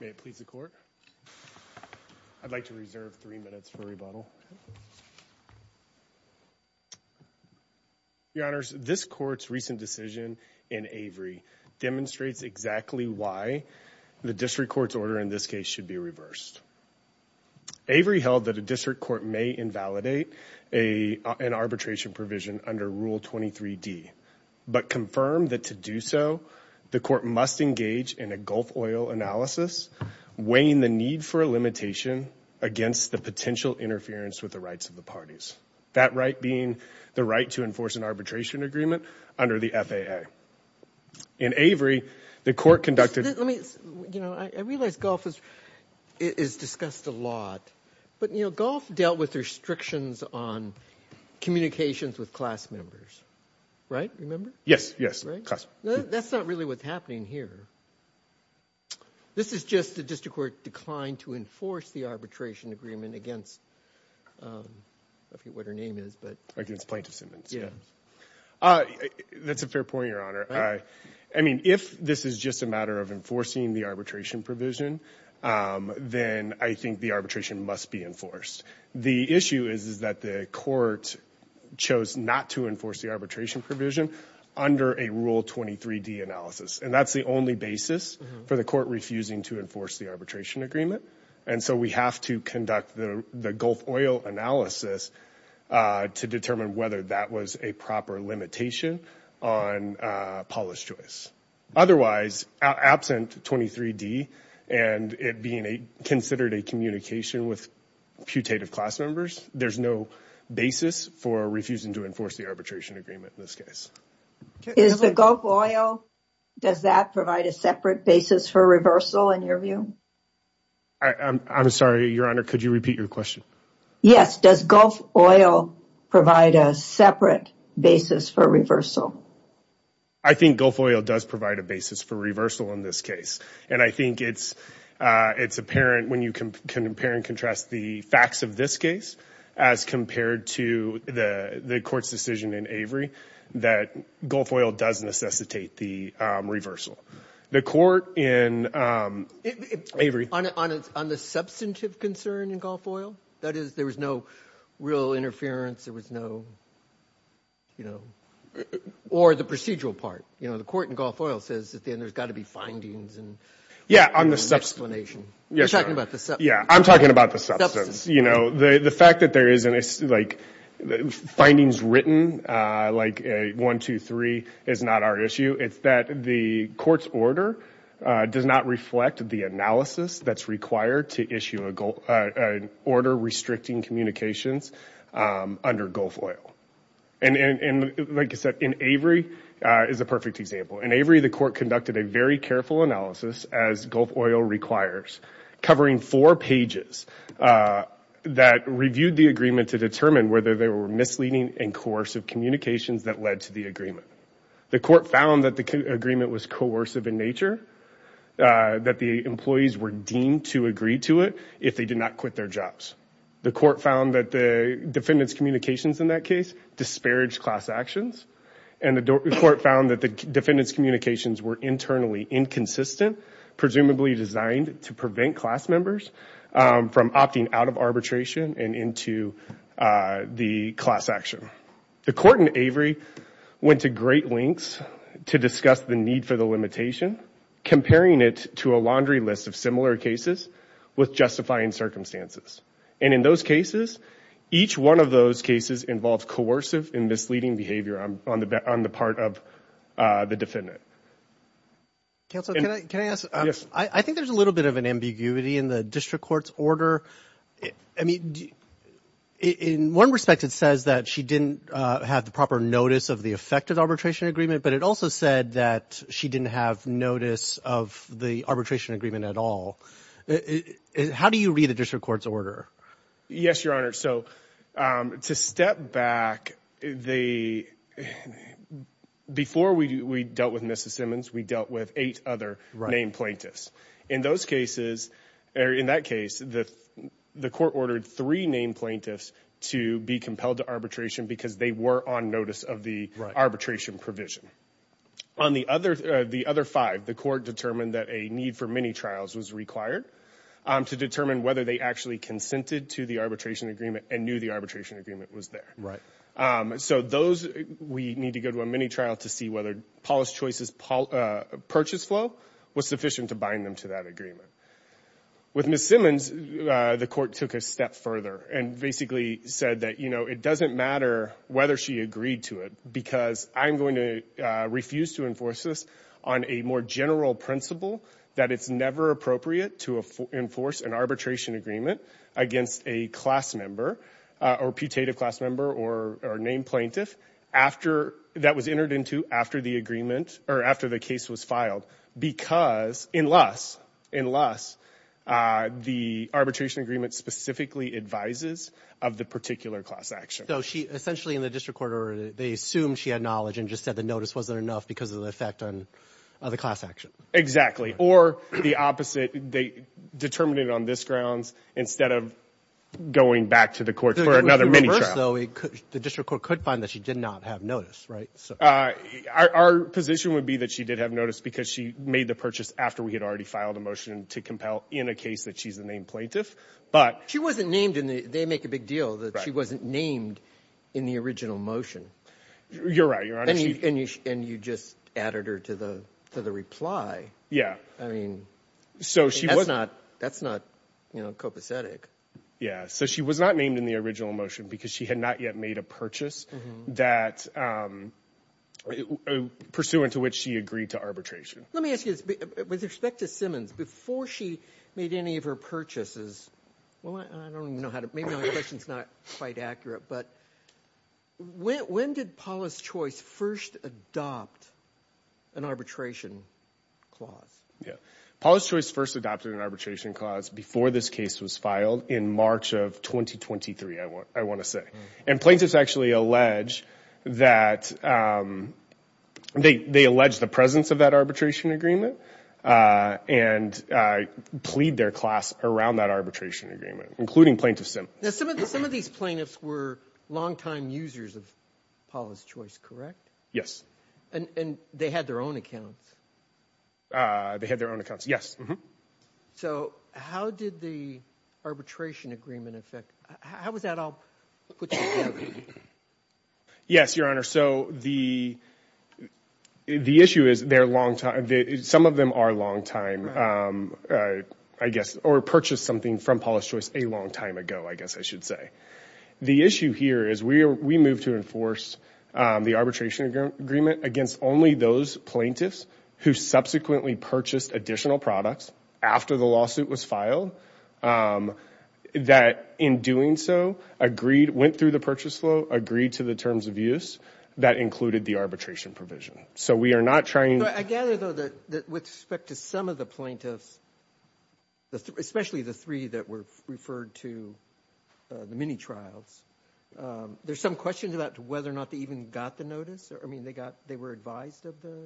May it please the Court. I'd like to reserve three minutes for rebuttal. Your Honors, this Court's recent decision in Avery demonstrates exactly why the District Court's order in this case should be reversed. Avery held that a District Court may invalidate an arbitration provision under Rule 23d, but confirmed that to do so the Court must engage in a Gulf oil analysis, weighing the need for a limitation against the potential interference with the rights of the parties. That right being the right to enforce an arbitration agreement under the FAA. In Avery, the Court conducted... I realize Gulf is discussed a lot, but you know Gulf dealt with restrictions on communications with class members, right? Remember? Yes, yes. That's not really what's happening here. This is just the District Court declined to enforce the arbitration agreement against... I forget what her name is, but... Against Plaintiff Simmons. Yeah. That's a fair point, Your Honor. I mean if this is just a matter of enforcing the arbitration provision, then I think the arbitration must be enforced. The issue is that the Court chose not to enforce the arbitration provision under a Rule 23d analysis, and that's the only basis for the Court refusing to enforce the arbitration agreement, and so we have to conduct the Gulf oil analysis to determine whether that was a proper limitation on Paulus Choice. Otherwise, absent 23d and it being a considered a communication with putative class members, there's no basis for refusing to enforce the arbitration agreement in this case. Is the Gulf oil... does that provide a separate basis for reversal in your view? I'm sorry, Your Honor, could you repeat your question? Yes, does Gulf oil provide a separate basis for reversal? I think Gulf oil does provide a basis for reversal in this case, and I think it's apparent when you can compare and contrast the facts of this case as compared to the Court's decision in Avery that Gulf oil does necessitate the reversal. The Court in Avery... On the substantive concern in Gulf oil? That is, there was no real interference, there was no, you know, or the procedural part. You know, the Court in Gulf oil says at the end there's got to be findings and explanations. Yeah, I'm talking about the substance, you know. The fact that there isn't, like, findings written like 123 is not our issue, it's that the Court's order does not reflect the analysis that's required to issue an order restricting communications under Gulf oil. And like I said, in Avery is a perfect example. In Avery, the Court conducted a very careful analysis, as Gulf oil requires, covering four pages that reviewed the agreement to determine whether there were misleading and coercive communications that led to the agreement. The Court found that the agreement was coercive in nature, that the employees were deemed to agree to it if they did not quit their jobs. The Court found that the defendant's communications in that case disparaged class actions. And the Court found that the defendant's communications were internally inconsistent, presumably designed to prevent class members from opting out of arbitration and into the class action. The Court in Avery went to great lengths to discuss the need for the limitation, comparing it to a laundry list of similar cases with justifying circumstances. And in those cases, each one of those cases involved coercive and misleading behavior on the part of the defendant. Counsel, can I ask, I think there's a little bit of an ambiguity in the District Court's order. I mean, in one respect it says that she didn't have the proper notice of the effective arbitration agreement, but it also said that she didn't have notice of the arbitration agreement at all. How do you read the District Court's order? Yes, Your Honor, so to step back, before we dealt with Mrs. Simmons, we dealt with eight other named plaintiffs. In those cases, or in that case, the Court ordered three named plaintiffs to be compelled to arbitration because they were on notice of the arbitration provision. On the other five, the Court determined that a need for many trials was required to determine whether they actually consented to the arbitration agreement and knew the arbitration agreement was there. So those, we need to go to a many trials to see whether Paula's Choice's purchase flow was sufficient to bind them to that agreement. With Mrs. Simmons, the Court took a step further and basically said that, you know, it doesn't matter whether she agreed to it because I'm going to refuse to enforce this on a more general principle that it's never appropriate to enforce an arbitration agreement against a class member or putative class member or named plaintiff after that was entered into after the agreement or after the case was filed because, unless, unless the arbitration agreement specifically advises of the particular class action. So she, essentially in the District Court order, they assumed she had knowledge and just said the notice wasn't enough because of the effect on the class action. Exactly. Or the opposite, they determined it on this grounds instead of going back to the Court for another many trials. The worst though, the District Court could find that she did not have notice, right? Our position would be that she did have notice because she made the purchase after we had already filed a motion to compel in a case that she's the named plaintiff. But she wasn't named in the, they make a big deal that she wasn't named in the original motion. You're right, Your Honor. And you just added her to the, to the reply. Yeah. I mean, that's not, that's not, you know, copacetic. Yeah. So she was not named in the original motion because she had not yet made a purchase that, pursuant to which she agreed to arbitration. Let me ask you this. With respect to Simmons, before she made any of her purchases, well, I don't even know how to, maybe my question's not quite accurate, but when did Paula's Choice first adopt an arbitration clause? Yeah. Paula's Choice first adopted an arbitration clause before this case was filed in March of 2023, I want, I want to say. And plaintiffs actually allege that, they, they allege the presence of that arbitration agreement and plead their class around that arbitration agreement, including Plaintiff Simmons. Now, some of the, some of these plaintiffs were longtime users of Paula's Choice, correct? Yes. And they had their own accounts? They had their own accounts, yes. Mm-hmm. So how did the arbitration agreement affect, how was that all put together? Yes, Your Honor. So the, the issue is they're longtime, some of them are longtime, I guess, or purchased something from Paula's Choice a long time ago, I guess I should say. The issue here is we, we moved to enforce the arbitration agreement against only those plaintiffs who subsequently purchased additional products after the lawsuit was filed that, in doing so, agreed, went through the purchase flow, agreed to the terms of use that included the arbitration provision. So we are not trying to... I gather, though, that with respect to some of the plaintiffs, especially the three that were referred to the mini-trials, there's some questions about whether or not they even got the notice? I mean, they got, they were advised of the...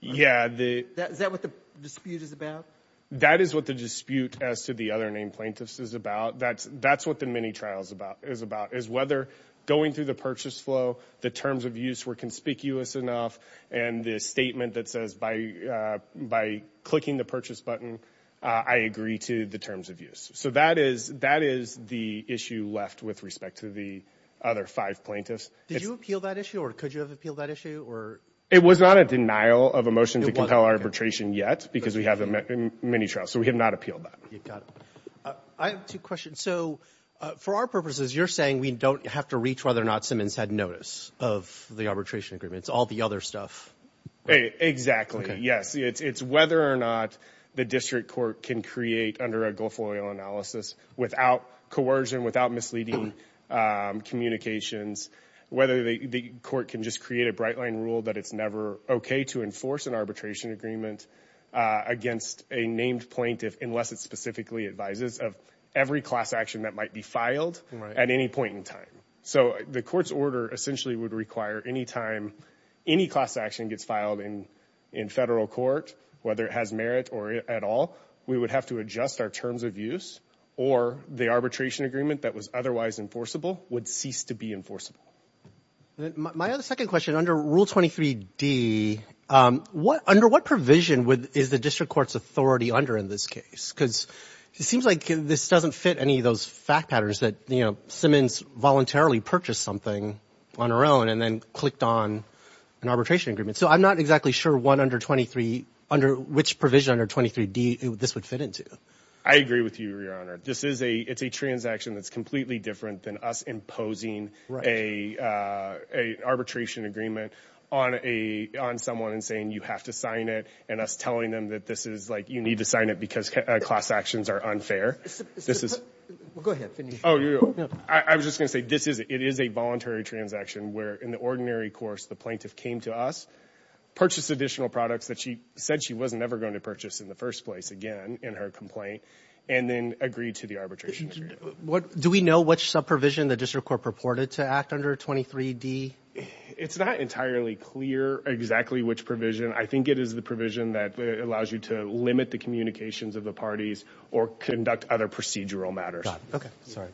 Yeah, the... Is that what the dispute is about? That is what the dispute as to the other named plaintiffs is about. That's, that's what the mini-trials about, is about, is whether going through the purchase flow, the terms of use were conspicuous enough, and the statement that says by, by clicking the purchase button, I agree to the terms of use. So that is, that is the issue left with respect to the other five plaintiffs. Did you appeal that issue, or could you have appealed that issue, or? It was not a denial of a motion to compel arbitration yet, because we have a mini-trial, so we have not appealed that. You've got it. I have two questions. So, for our purposes, you're saying we don't have to reach whether or not Simmons had notice of the arbitration agreements, all the other stuff? Exactly, yes. It's, it's whether or not the district court can create, under a Gulf Oil analysis, without coercion, without misleading communications, whether the court can just create a bright-line rule that it's never okay to enforce an arbitration agreement against a named plaintiff, unless it specifically advises of every class action that might be filed at any point in time. So the court's order essentially would require any time any class action gets filed in, in federal court, whether it has merit or at all, we would have to adjust our terms of use, or the arbitration agreement that was otherwise enforceable would cease to be enforceable. My other second question, under Rule 23d, what, under what provision would, is the district court's authority under in this case? Because it seems like this doesn't fit any of those fact patterns that, you know, Simmons voluntarily purchased something on her own and then clicked on an arbitration agreement. So I'm not exactly sure what under 23, under which provision under 23d this would fit into. I agree with you, your honor. This is a, it's a transaction that's completely different than us imposing a, a arbitration agreement on a, on someone and saying you have to sign it, and us telling them that this is like, you need to sign it because class actions are unfair. This is, go ahead. Oh, I was just gonna say this is, it is a voluntary transaction where in the ordinary course the plaintiff came to us, purchased additional products that she said she wasn't ever going to purchase in the first place again in her complaint, and then agreed to the arbitration agreement. What, do we know which sub provision the district court purported to act under 23d? It's not entirely clear exactly which provision. I think it is the provision that allows you to limit the communications of the parties or conduct other procedural matters. Okay, sorry.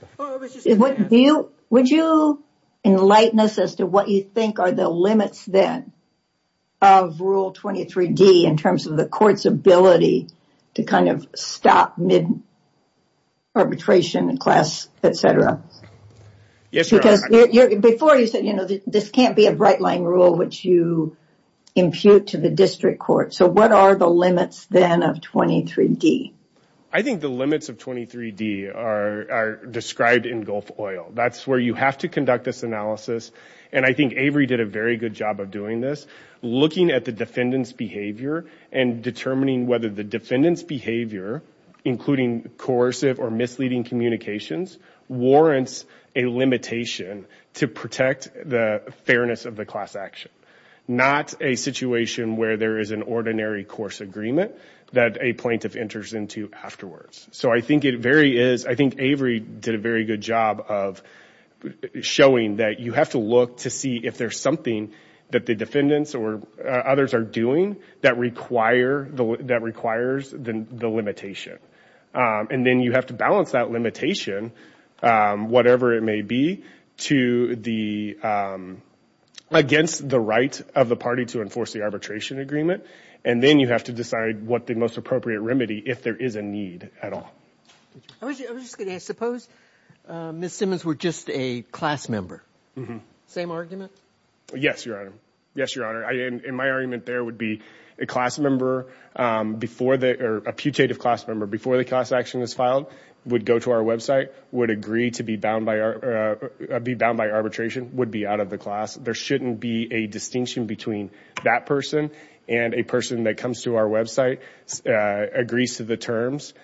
Do you, would you enlighten us as to what you think are the limits then of rule 23d in terms of the court's ability to kind of stop mid arbitration and class, etc? Yes, your honor. Because before you said, you know, this can't be a bright line rule which you impute to the district court. So what are the limits then of 23d? I think the limits of 23d are described in Gulf Oil. That's where you have to conduct this analysis, and I think Avery did a very good job of doing this. Looking at the defendant's behavior and determining whether the defendant's behavior, including coercive or misleading communications, warrants a limitation to protect the fairness of the class action. Not a situation where there is an ordinary course agreement that a plaintiff enters into afterwards. So I think it very is, I think Avery did a very good job of showing that you have to look to see if there's something that the defendants or others are doing that require, that requires the limitation. And then you have to balance that limitation, whatever it may be, to the, against the right of the party to enforce the arbitration agreement. And then you have to decide what the most appropriate remedy, if there is a need at all. I was just going to ask, suppose Ms. Simmons were just a class member. Mm-hmm. Same argument? Yes, your honor. Yes, your honor. In my argument there would be a class member before the, or a putative class member before the class action is filed, would go to our website, would agree to be bound by our, be bound by arbitration, would be out of the class. There shouldn't be a distinction between that person and a person that comes to our website, agrees to the terms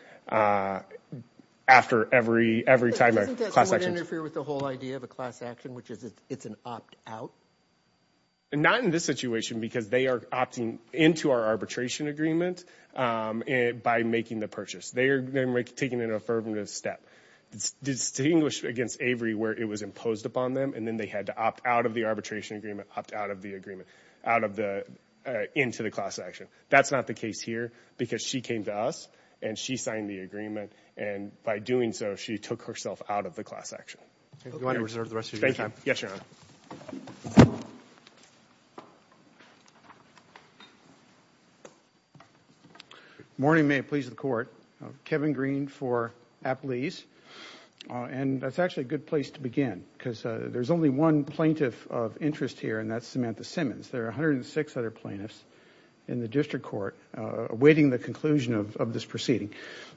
after every, every time a class action. Doesn't that interfere with the whole idea of a class action, which is it's an opt-out? Not in this situation because they are opting into our arbitration agreement by making the purchase. They are then taking an affirmative step. It's distinguished against Avery where it was imposed upon them and then they had to opt out of the arbitration agreement, opt out of the agreement, out of the, into the class action. That's not the case here because she came to us and she signed the agreement and by doing so she took herself out of the class action. Okay, go ahead and reserve the rest of your time. Yes, Your Honor. Morning, may it please the court. Kevin Green for Apley's and that's actually a good place to begin because there's only one plaintiff of interest here and that's Samantha Simmons. There are 106 other plaintiffs in the district court awaiting the conclusion of this proceeding.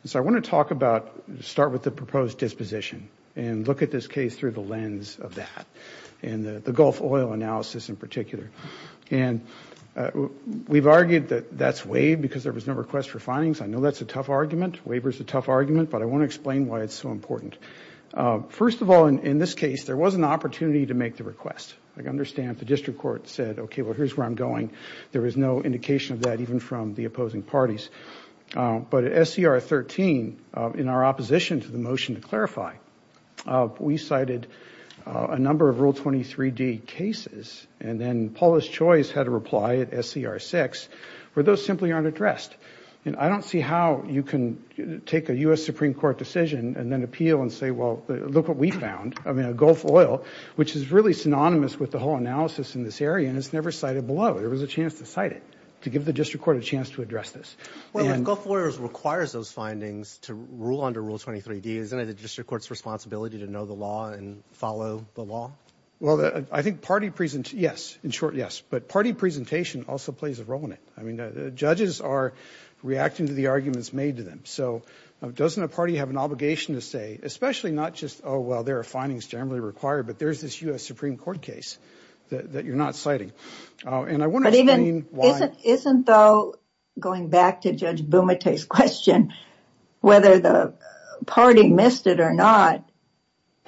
So I want to talk about, start with the proposed disposition and look at this case through the lens of that and the Gulf oil analysis in particular. And we've argued that that's waived because there was no request for findings. I know that's a tough argument, waiver is a tough argument, but I want to explain why it's so important. First of all, in this case there was an opportunity to make the request. I understand the district court said, okay, well here's where I'm going. There was no indication of that even from the opposing parties. But at SCR 13, in our opposition to the motion to clarify, we cited a number of Rule 23d cases and then Paula's Choice had a reply at SCR 6 where those simply aren't addressed. And I don't see how you can take a U.S. Supreme Court decision and then appeal and say, well, look what we found. I mean a Gulf oil, which is really synonymous with the whole analysis in this area, and it's never cited below. There was a chance to cite it, to give the district court a chance to address this. Well, if Gulf oil requires those findings to rule under Rule 23d, isn't it the district court's responsibility to know the law and follow the law? Well, I think party presentation, yes, in short, yes. But party presentation also plays a role in it. I mean, judges are reacting to the arguments made to them. So doesn't a party have an obligation to say, especially not just, oh well, there are findings generally required, but there's this U.S. Supreme Court case that you're not citing. Isn't though, going back to Judge Bumate's question, whether the party missed it or not,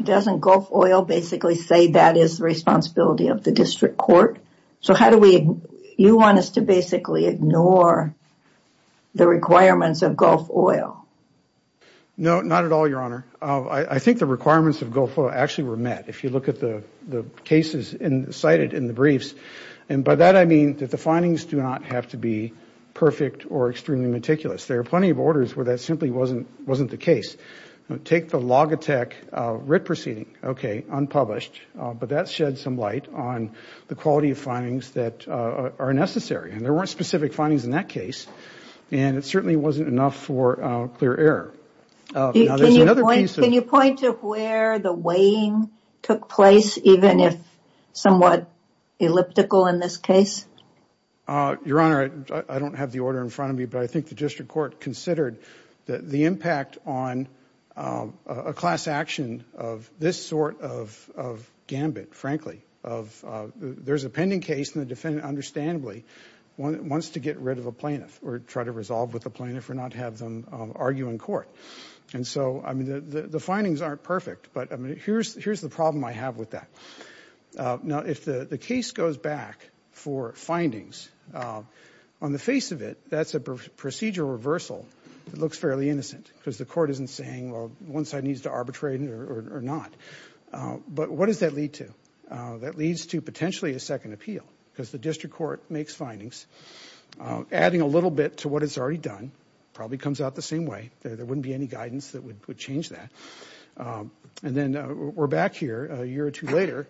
doesn't Gulf oil basically say that is the responsibility of the district court? So how do we, you want us to basically ignore the requirements of Gulf oil? No, not at all, Your Honor. I think the requirements of Gulf oil actually were met. If you look at the cases cited in the briefs, and by that I mean that the findings do not have to be perfect or extremely meticulous. There are plenty of orders where that simply wasn't the case. Take the Logitech writ proceeding, okay, unpublished, but that shed some light on the quality of findings that are necessary. And there weren't specific findings in that case, and it certainly wasn't enough for clear error. Can you point to where the weighing took place, even if somewhat elliptical in this case? Your Honor, I don't have the order in front of me, but I think the district court considered that the impact on a class action of this sort of gambit, frankly, of there's a pending case and the defendant understandably wants to get rid of a plaintiff or try to resolve with a plaintiff or not have them argue in court. And so, I mean, the findings aren't perfect, but I mean, here's the problem I have with that. Now, if the case goes back for findings, on the face of it, that's a procedural reversal that looks fairly innocent because the court isn't saying, well, one side needs to arbitrate or not. But what does that lead to? That leads to potentially a second appeal because the district court makes findings, adding a little bit to what it's already done, probably comes out the same way, there wouldn't be any guidance that would change that. And then we're back here a year or two later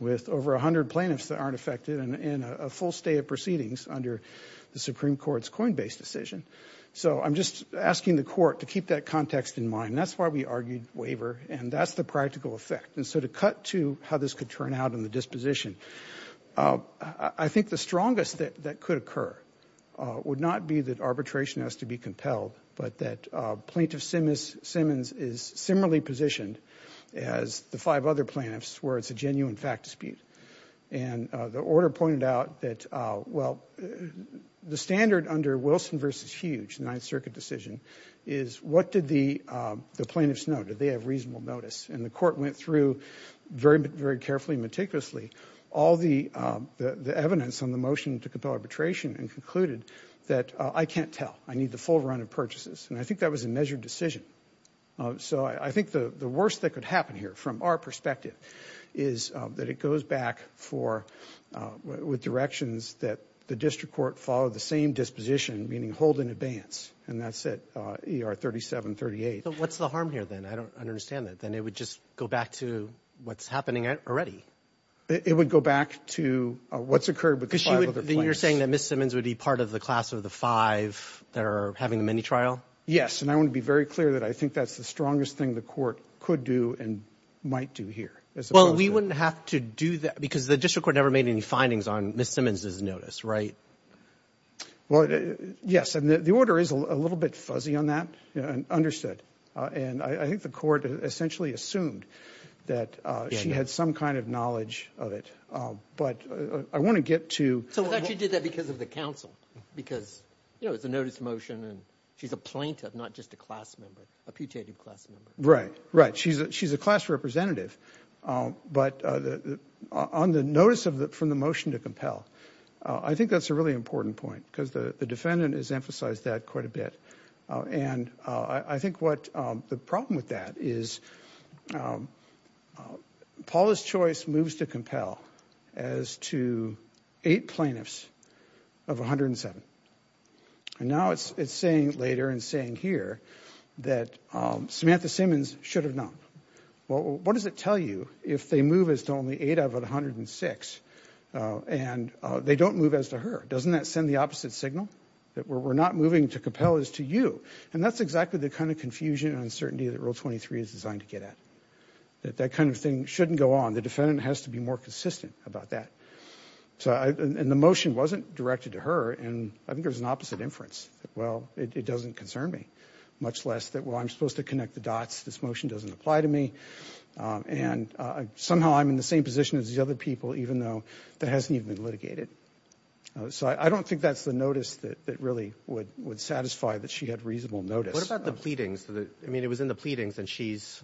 with over a hundred plaintiffs that aren't affected and a full stay of proceedings under the Supreme Court's coinbase decision. So I'm just asking the court to keep that context in mind. That's why we argued waiver and that's the practical effect. And so to cut to how this could turn out in the disposition, I think the strongest that could occur would not be that arbitration has to be compelled, but that Plaintiff Simmons is similarly positioned as the five other plaintiffs where it's a genuine fact dispute. And the order pointed out that, well, the standard under Wilson v. Hughes, the Ninth Circuit decision, is what did the plaintiffs know? Did they have reasonable notice? And the court went through very, very carefully, meticulously, all the evidence on the motion to compel arbitration and concluded that I can't tell. I need the full run of purchases. And I think that was a measured decision. So I think the worst that could happen here, from our perspective, is that it goes back for, with directions that the district court follow the same disposition, meaning hold in advance. And that's at ER 3738. But what's the harm here then? I don't understand that. Then it would just go back to what's happening already. It would go back to what's occurred with the five other plaintiffs. So you're saying that Ms. Simmons would be part of the class of the five that are having a mini-trial? Yes, and I want to be very clear that I think that's the strongest thing the court could do and might do here. Well, we wouldn't have to do that because the district court never made any findings on Ms. Simmons's notice, right? Well, yes, and the order is a little bit fuzzy on that and understood. And I think the court essentially assumed that she had some kind of knowledge of it. But I want to get to... I thought she did that because of the counsel, because, you know, it's a notice motion and she's a plaintiff, not just a class member, a putative class member. Right, right. She's a class representative. But on the notice from the motion to compel, I think that's a really important point because the defendant has emphasized that quite a bit. And I think what the problem with that is Paula's choice moves to compel as to eight plaintiffs of 107. And now it's saying later and saying here that Samantha Simmons should have known. Well, what does it tell you if they move as to only eight of 106 and they don't move as to her? Doesn't that send the opposite signal? That we're not moving to compel as to you. And that's exactly the kind of confusion and uncertainty that Rule 23 is designed to get at. That that kind of thing shouldn't go on. The defendant has to be more consistent about that. So, and the motion wasn't directed to her and I think there's an opposite inference. Well, it doesn't concern me, much less that, well, I'm supposed to connect the dots. This motion doesn't apply to me. And somehow I'm in the same position as the other people, even though that hasn't even been litigated. So I don't think that's the notice that really would satisfy that she had reasonable notice. What about the pleadings? I mean, it was in the pleadings and she's,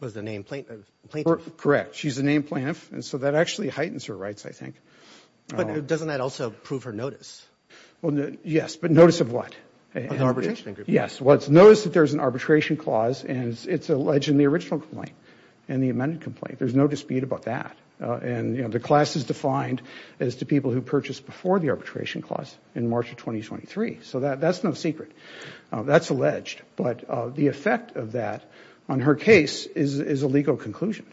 was the name plaintiff? Correct, she's the name plaintiff. And so that actually heightens her rights, I think. But doesn't that also prove her notice? Well, yes, but notice of what? Yes, notice that there's an arbitration clause and it's alleged in the original complaint and the amended complaint. There's no dispute about that. And, you know, the class is defined as to people who purchased before the arbitration clause in March of 2023. So that's no secret. That's alleged. But the effect of that on her case is a legal conclusion.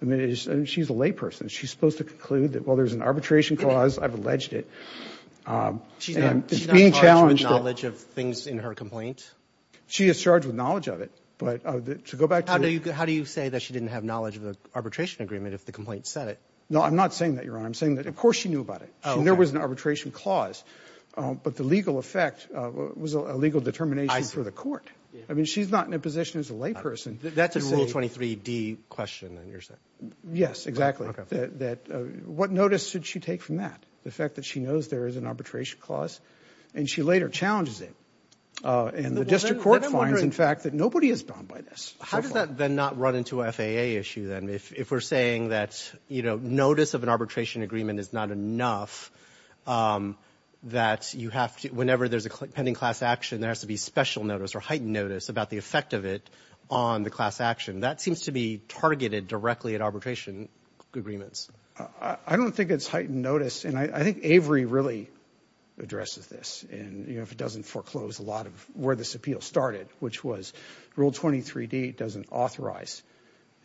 I mean, she's a lay person. She's supposed to conclude that, well, there's an arbitration clause, I've alleged it. She's not charged with knowledge of things in her complaint? She is charged with knowledge of it, but to go back to... How do you say that she didn't have knowledge of the arbitration agreement if the complaint said it? No, I'm not saying that, Your Honor. I'm saying that, of course, she knew about it. There was an arbitration clause, but the legal effect was a legal determination for the court. I mean, she's not in a position as a lay person... That's a Rule 23d question, then, you're saying? Yes, exactly. What notice should she take from that? The fact that she knows there is an arbitration clause and she later challenges it. And the district court finds, in fact, that nobody has gone by this. How does that then not run into a FAA issue, then, if we're saying that, you know, that you have to, whenever there's a pending class action, there has to be special notice or heightened notice about the effect of it on the class action? That seems to be targeted directly at arbitration agreements. I don't think it's heightened notice, and I think Avery really addresses this, and, you know, if it doesn't foreclose a lot of where this appeal started, which was Rule 23d doesn't authorize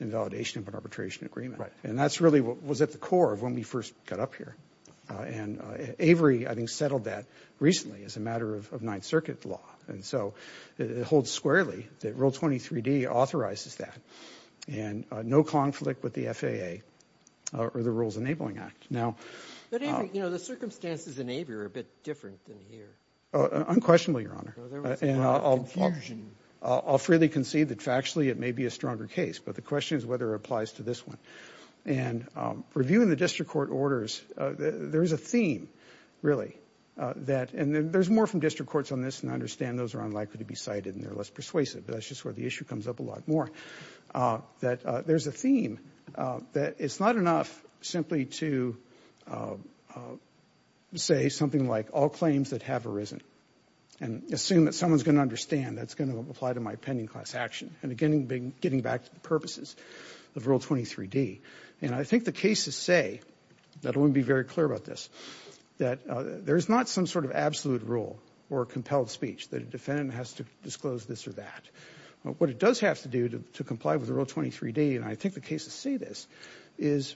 invalidation of an arbitration agreement. Right. And that's really what was at the core of when we first got up here, and Avery, I think, settled that recently as a matter of Ninth Circuit law, and so it holds squarely that Rule 23d authorizes that, and no conflict with the FAA or the Rules Enabling Act. Now, you know, the circumstances in Avery are a bit different than here. Unquestionably, Your Honor, and I'll freely concede that factually it may be a stronger case, but the question is whether it applies to this one. And reviewing the district court orders, there's a theme, really, that, and there's more from district courts on this, and I understand those are unlikely to be cited, and they're less persuasive, but that's just where the issue comes up a lot more, that there's a theme that it's not enough simply to say something like, all claims that have arisen, and assume that someone's going to understand that's going to apply to my pending class action, and again, getting back to the purposes of Rule 23d. And I think the cases say, that I want to be very clear about this, that there's not some sort of absolute rule or compelled speech that a defendant has to disclose this or that. What it does have to do to comply with Rule 23d, and I think the cases say this, is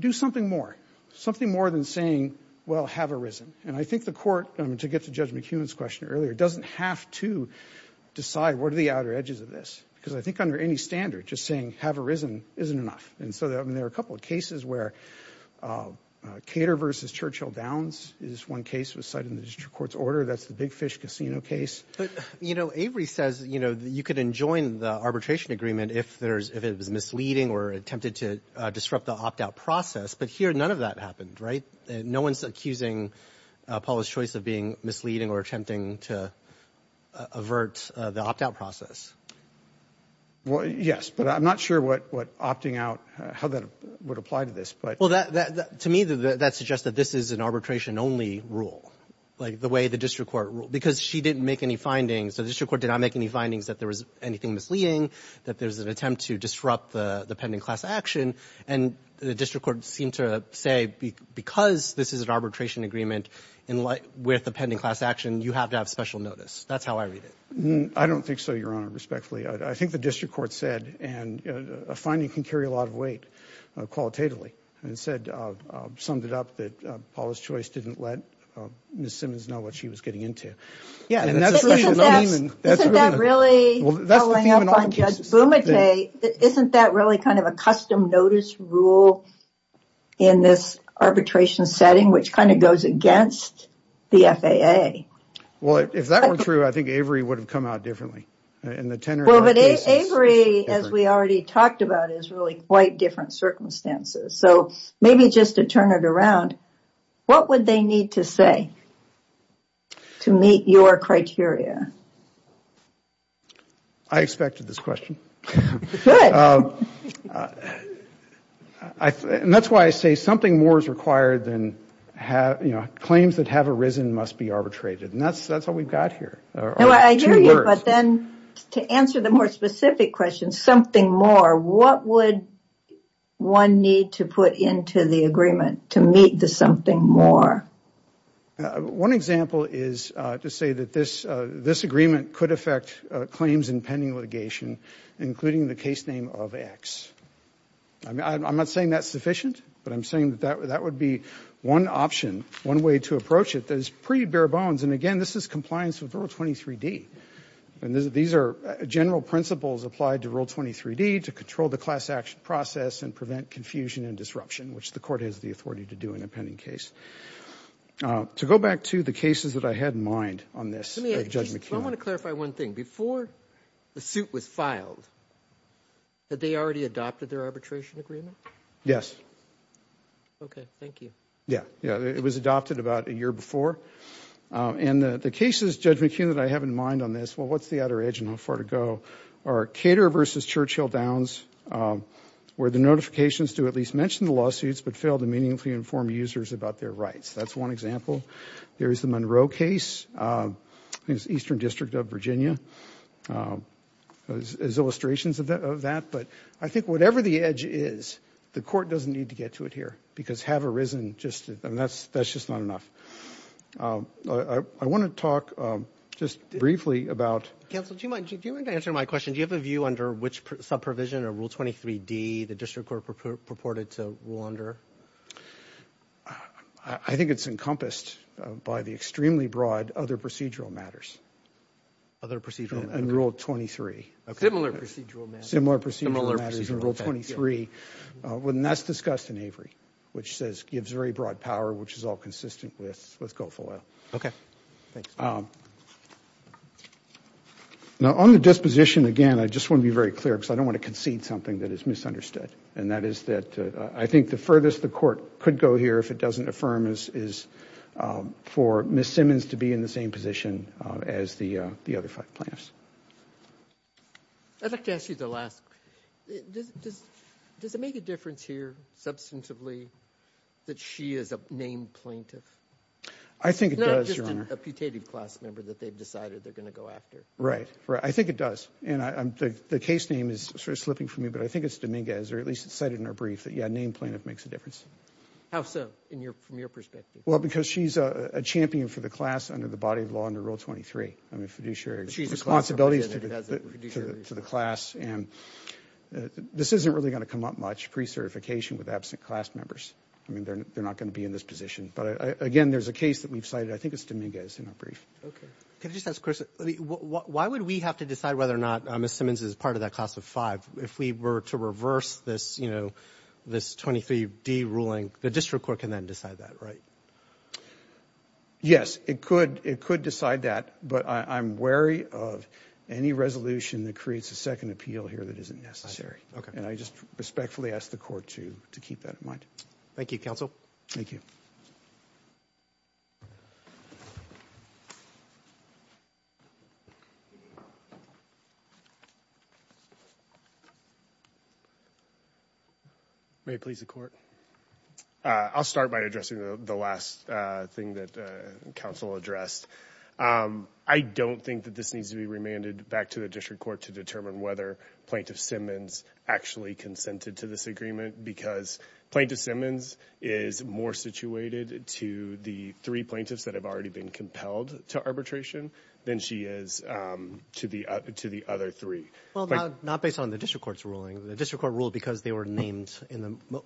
do something more, something more than saying, well, have arisen. And I think the Court, to get to Judge McEwen's question earlier, doesn't have to decide what the outer edges of this, because I think under any standard, just saying, have arisen, isn't enough. And so, I mean, there are a couple of cases where Cater v. Churchill Downs is one case that was cited in the district court's order, that's the Big Fish Casino case. But, you know, Avery says, you know, that you could enjoin the arbitration agreement if there's, if it was misleading or attempted to disrupt the opt-out process, but here, none of that happened, right? No one's accusing Paula's choice of being misleading or attempting to avert the opt-out process. Well, yes, but I'm not sure what opting out, how that would apply to this, but. Well, that, to me, that suggests that this is an arbitration-only rule, like the way the district court ruled, because she didn't make any findings. The district court did not make any findings that there was anything misleading, that there's an attempt to disrupt the pending class action, and the district court seemed to say, because this is an arbitration agreement with the pending class action, you have to have special notice. That's how I read it. I don't think so, Your Honor, respectfully. I think the district court said, and a finding can carry a lot of weight, qualitatively, and said, summed it up, that Paula's choice didn't let Ms. Simmons know what she was getting into. Yeah, and that's really the theme in all the cases. Isn't that really, following up on Judge Bumate, isn't that really kind of a custom notice rule in this arbitration setting, which kind of goes against the FAA? Well, if that were true, I think Avery would have come out differently, in the tenor. Well, but Avery, as we already talked about, is really quite different circumstances. So, maybe just to turn it around, what would they need to say to meet your criteria? I expected this question. Good. And that's why I say, something more is required than, you know, claims that have arisen must be arbitrated. And that's all we've got here. I hear you, but then, to answer the more specific question, something more, what would one need to put into the agreement to meet the something more? One example is to say that this agreement could affect claims in pending litigation, including the case name of X. I'm not saying that's sufficient, but I'm saying that that would be one option, one way to approach it that is pretty bare bones. And again, this is compliance with Rule 23D. And these are general principles applied to Rule 23D to control the class action process and prevent confusion and disruption, which the court has the authority to do in a pending case. To go back to the cases that I had in mind on this, Judge McKeon. I want to clarify one thing. Before the suit was filed, had they already adopted their arbitration agreement? Yes. Okay. Thank you. Yeah. Yeah. It was adopted about a year before. And the cases, Judge McKeon, that I have in mind on this, well, what's the outer edge and how far to go, are Cater v. Churchill Downs, where the notifications do at least mention the lawsuits but fail to meaningfully inform users about their rights. That's one example. There is the Monroe case, I think it's Eastern District of Virginia, as illustrations of that. But I think whatever the edge is, the court doesn't need to get to it here because have arisen just, and that's just not enough. I want to talk just briefly about... Counsel, do you mind answering my question? Do you have a view under which subprovision or Rule 23D the district court purported to rule under? I think it's encompassed by the extremely broad other procedural matters. Other procedural matters? In Rule 23. Similar procedural matters. Similar procedural matters in Rule 23. And that's discussed in Avery, which says gives very broad power, which is all consistent with Gulf Oil. Okay. Thanks. Now, on the disposition, again, I just want to be very clear because I don't want to concede something that is misunderstood. And that is that I think the furthest the court could go here, if it doesn't affirm, is for Ms. Simmons to be in the same position as the other five plaintiffs. I'd like to ask you the last... Does it make a difference here, substantively, that she is a named plaintiff? I think it does, Your Honor. Not just a putative class member that they've decided they're going to go after. Right. Right. I think it does. And the case name is sort of slipping from me, but I think it's Dominguez, or at least it's cited in her brief that, yeah, named plaintiff makes a difference. How so, from your perspective? Well, because she's a champion for the class under the body of law under Rule 23. I mean, fiduciary responsibilities to the class. And this isn't really going to come up much, pre-certification with absent class members. I mean, they're not going to be in this position. But again, there's a case that we've cited. I think it's Dominguez in her brief. Okay. Can I just ask a question? Why would we have to decide whether or not we were to reverse this, you know, this 23D ruling? The district court can then decide that, right? Yes, it could. It could decide that. But I'm wary of any resolution that creates a second appeal here that isn't necessary. And I just respectfully ask the court to keep that in mind. Thank you, counsel. Thank you. May it please the court. I'll start by addressing the last thing that counsel addressed. I don't think that this needs to be remanded back to the district court to determine whether Plaintiff Simmons actually consented to this agreement because Plaintiff Simmons is more situated to the three plaintiffs that have already been compelled to arbitration than she is to the other three. Well, not based on the district court's ruling, the district court ruled because they were named in the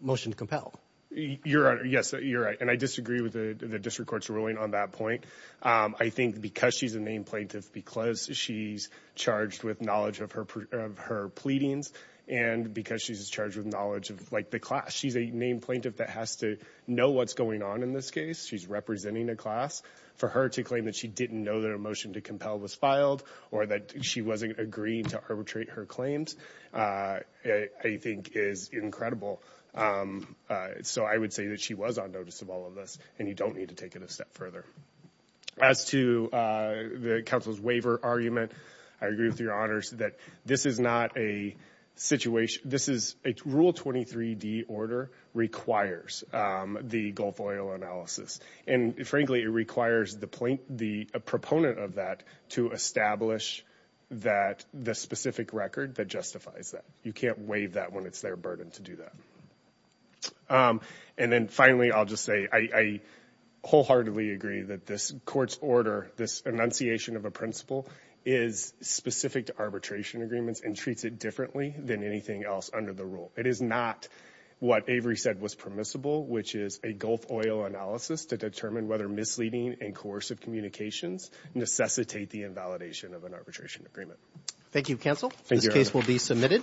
motion to compel. Your Honor, yes, you're right. And I disagree with the district court's ruling on that point. I think because she's a named plaintiff, because she's charged with knowledge of her pleadings, and because she's charged with knowledge of the class. She's a named plaintiff that has to know what's going on in this case. She's representing a class. For her to claim that she didn't know that a motion to compel was filed or that she wasn't agreeing to arbitrate her claims, I think is incredible. So I would say that she was on notice of all of this, and you don't need to take it a step further. As to the council's waiver argument, I agree with your honors that this is not a situation, this is a rule 23d order requires the Gulf oil analysis. And frankly, it requires the proponent of that to establish that the specific record that justifies that. You can't waive that when it's their burden to do that. And then finally, I'll just say, I wholeheartedly agree that this court's order, this enunciation of a principle is specific to arbitration agreements and treats it differently than anything else under the rule. It is not what Avery said was permissible, which is a Gulf oil analysis to determine whether misleading and coercive communications necessitate the invalidation of an arbitration agreement. Thank you, counsel. This case will be submitted. Thank you.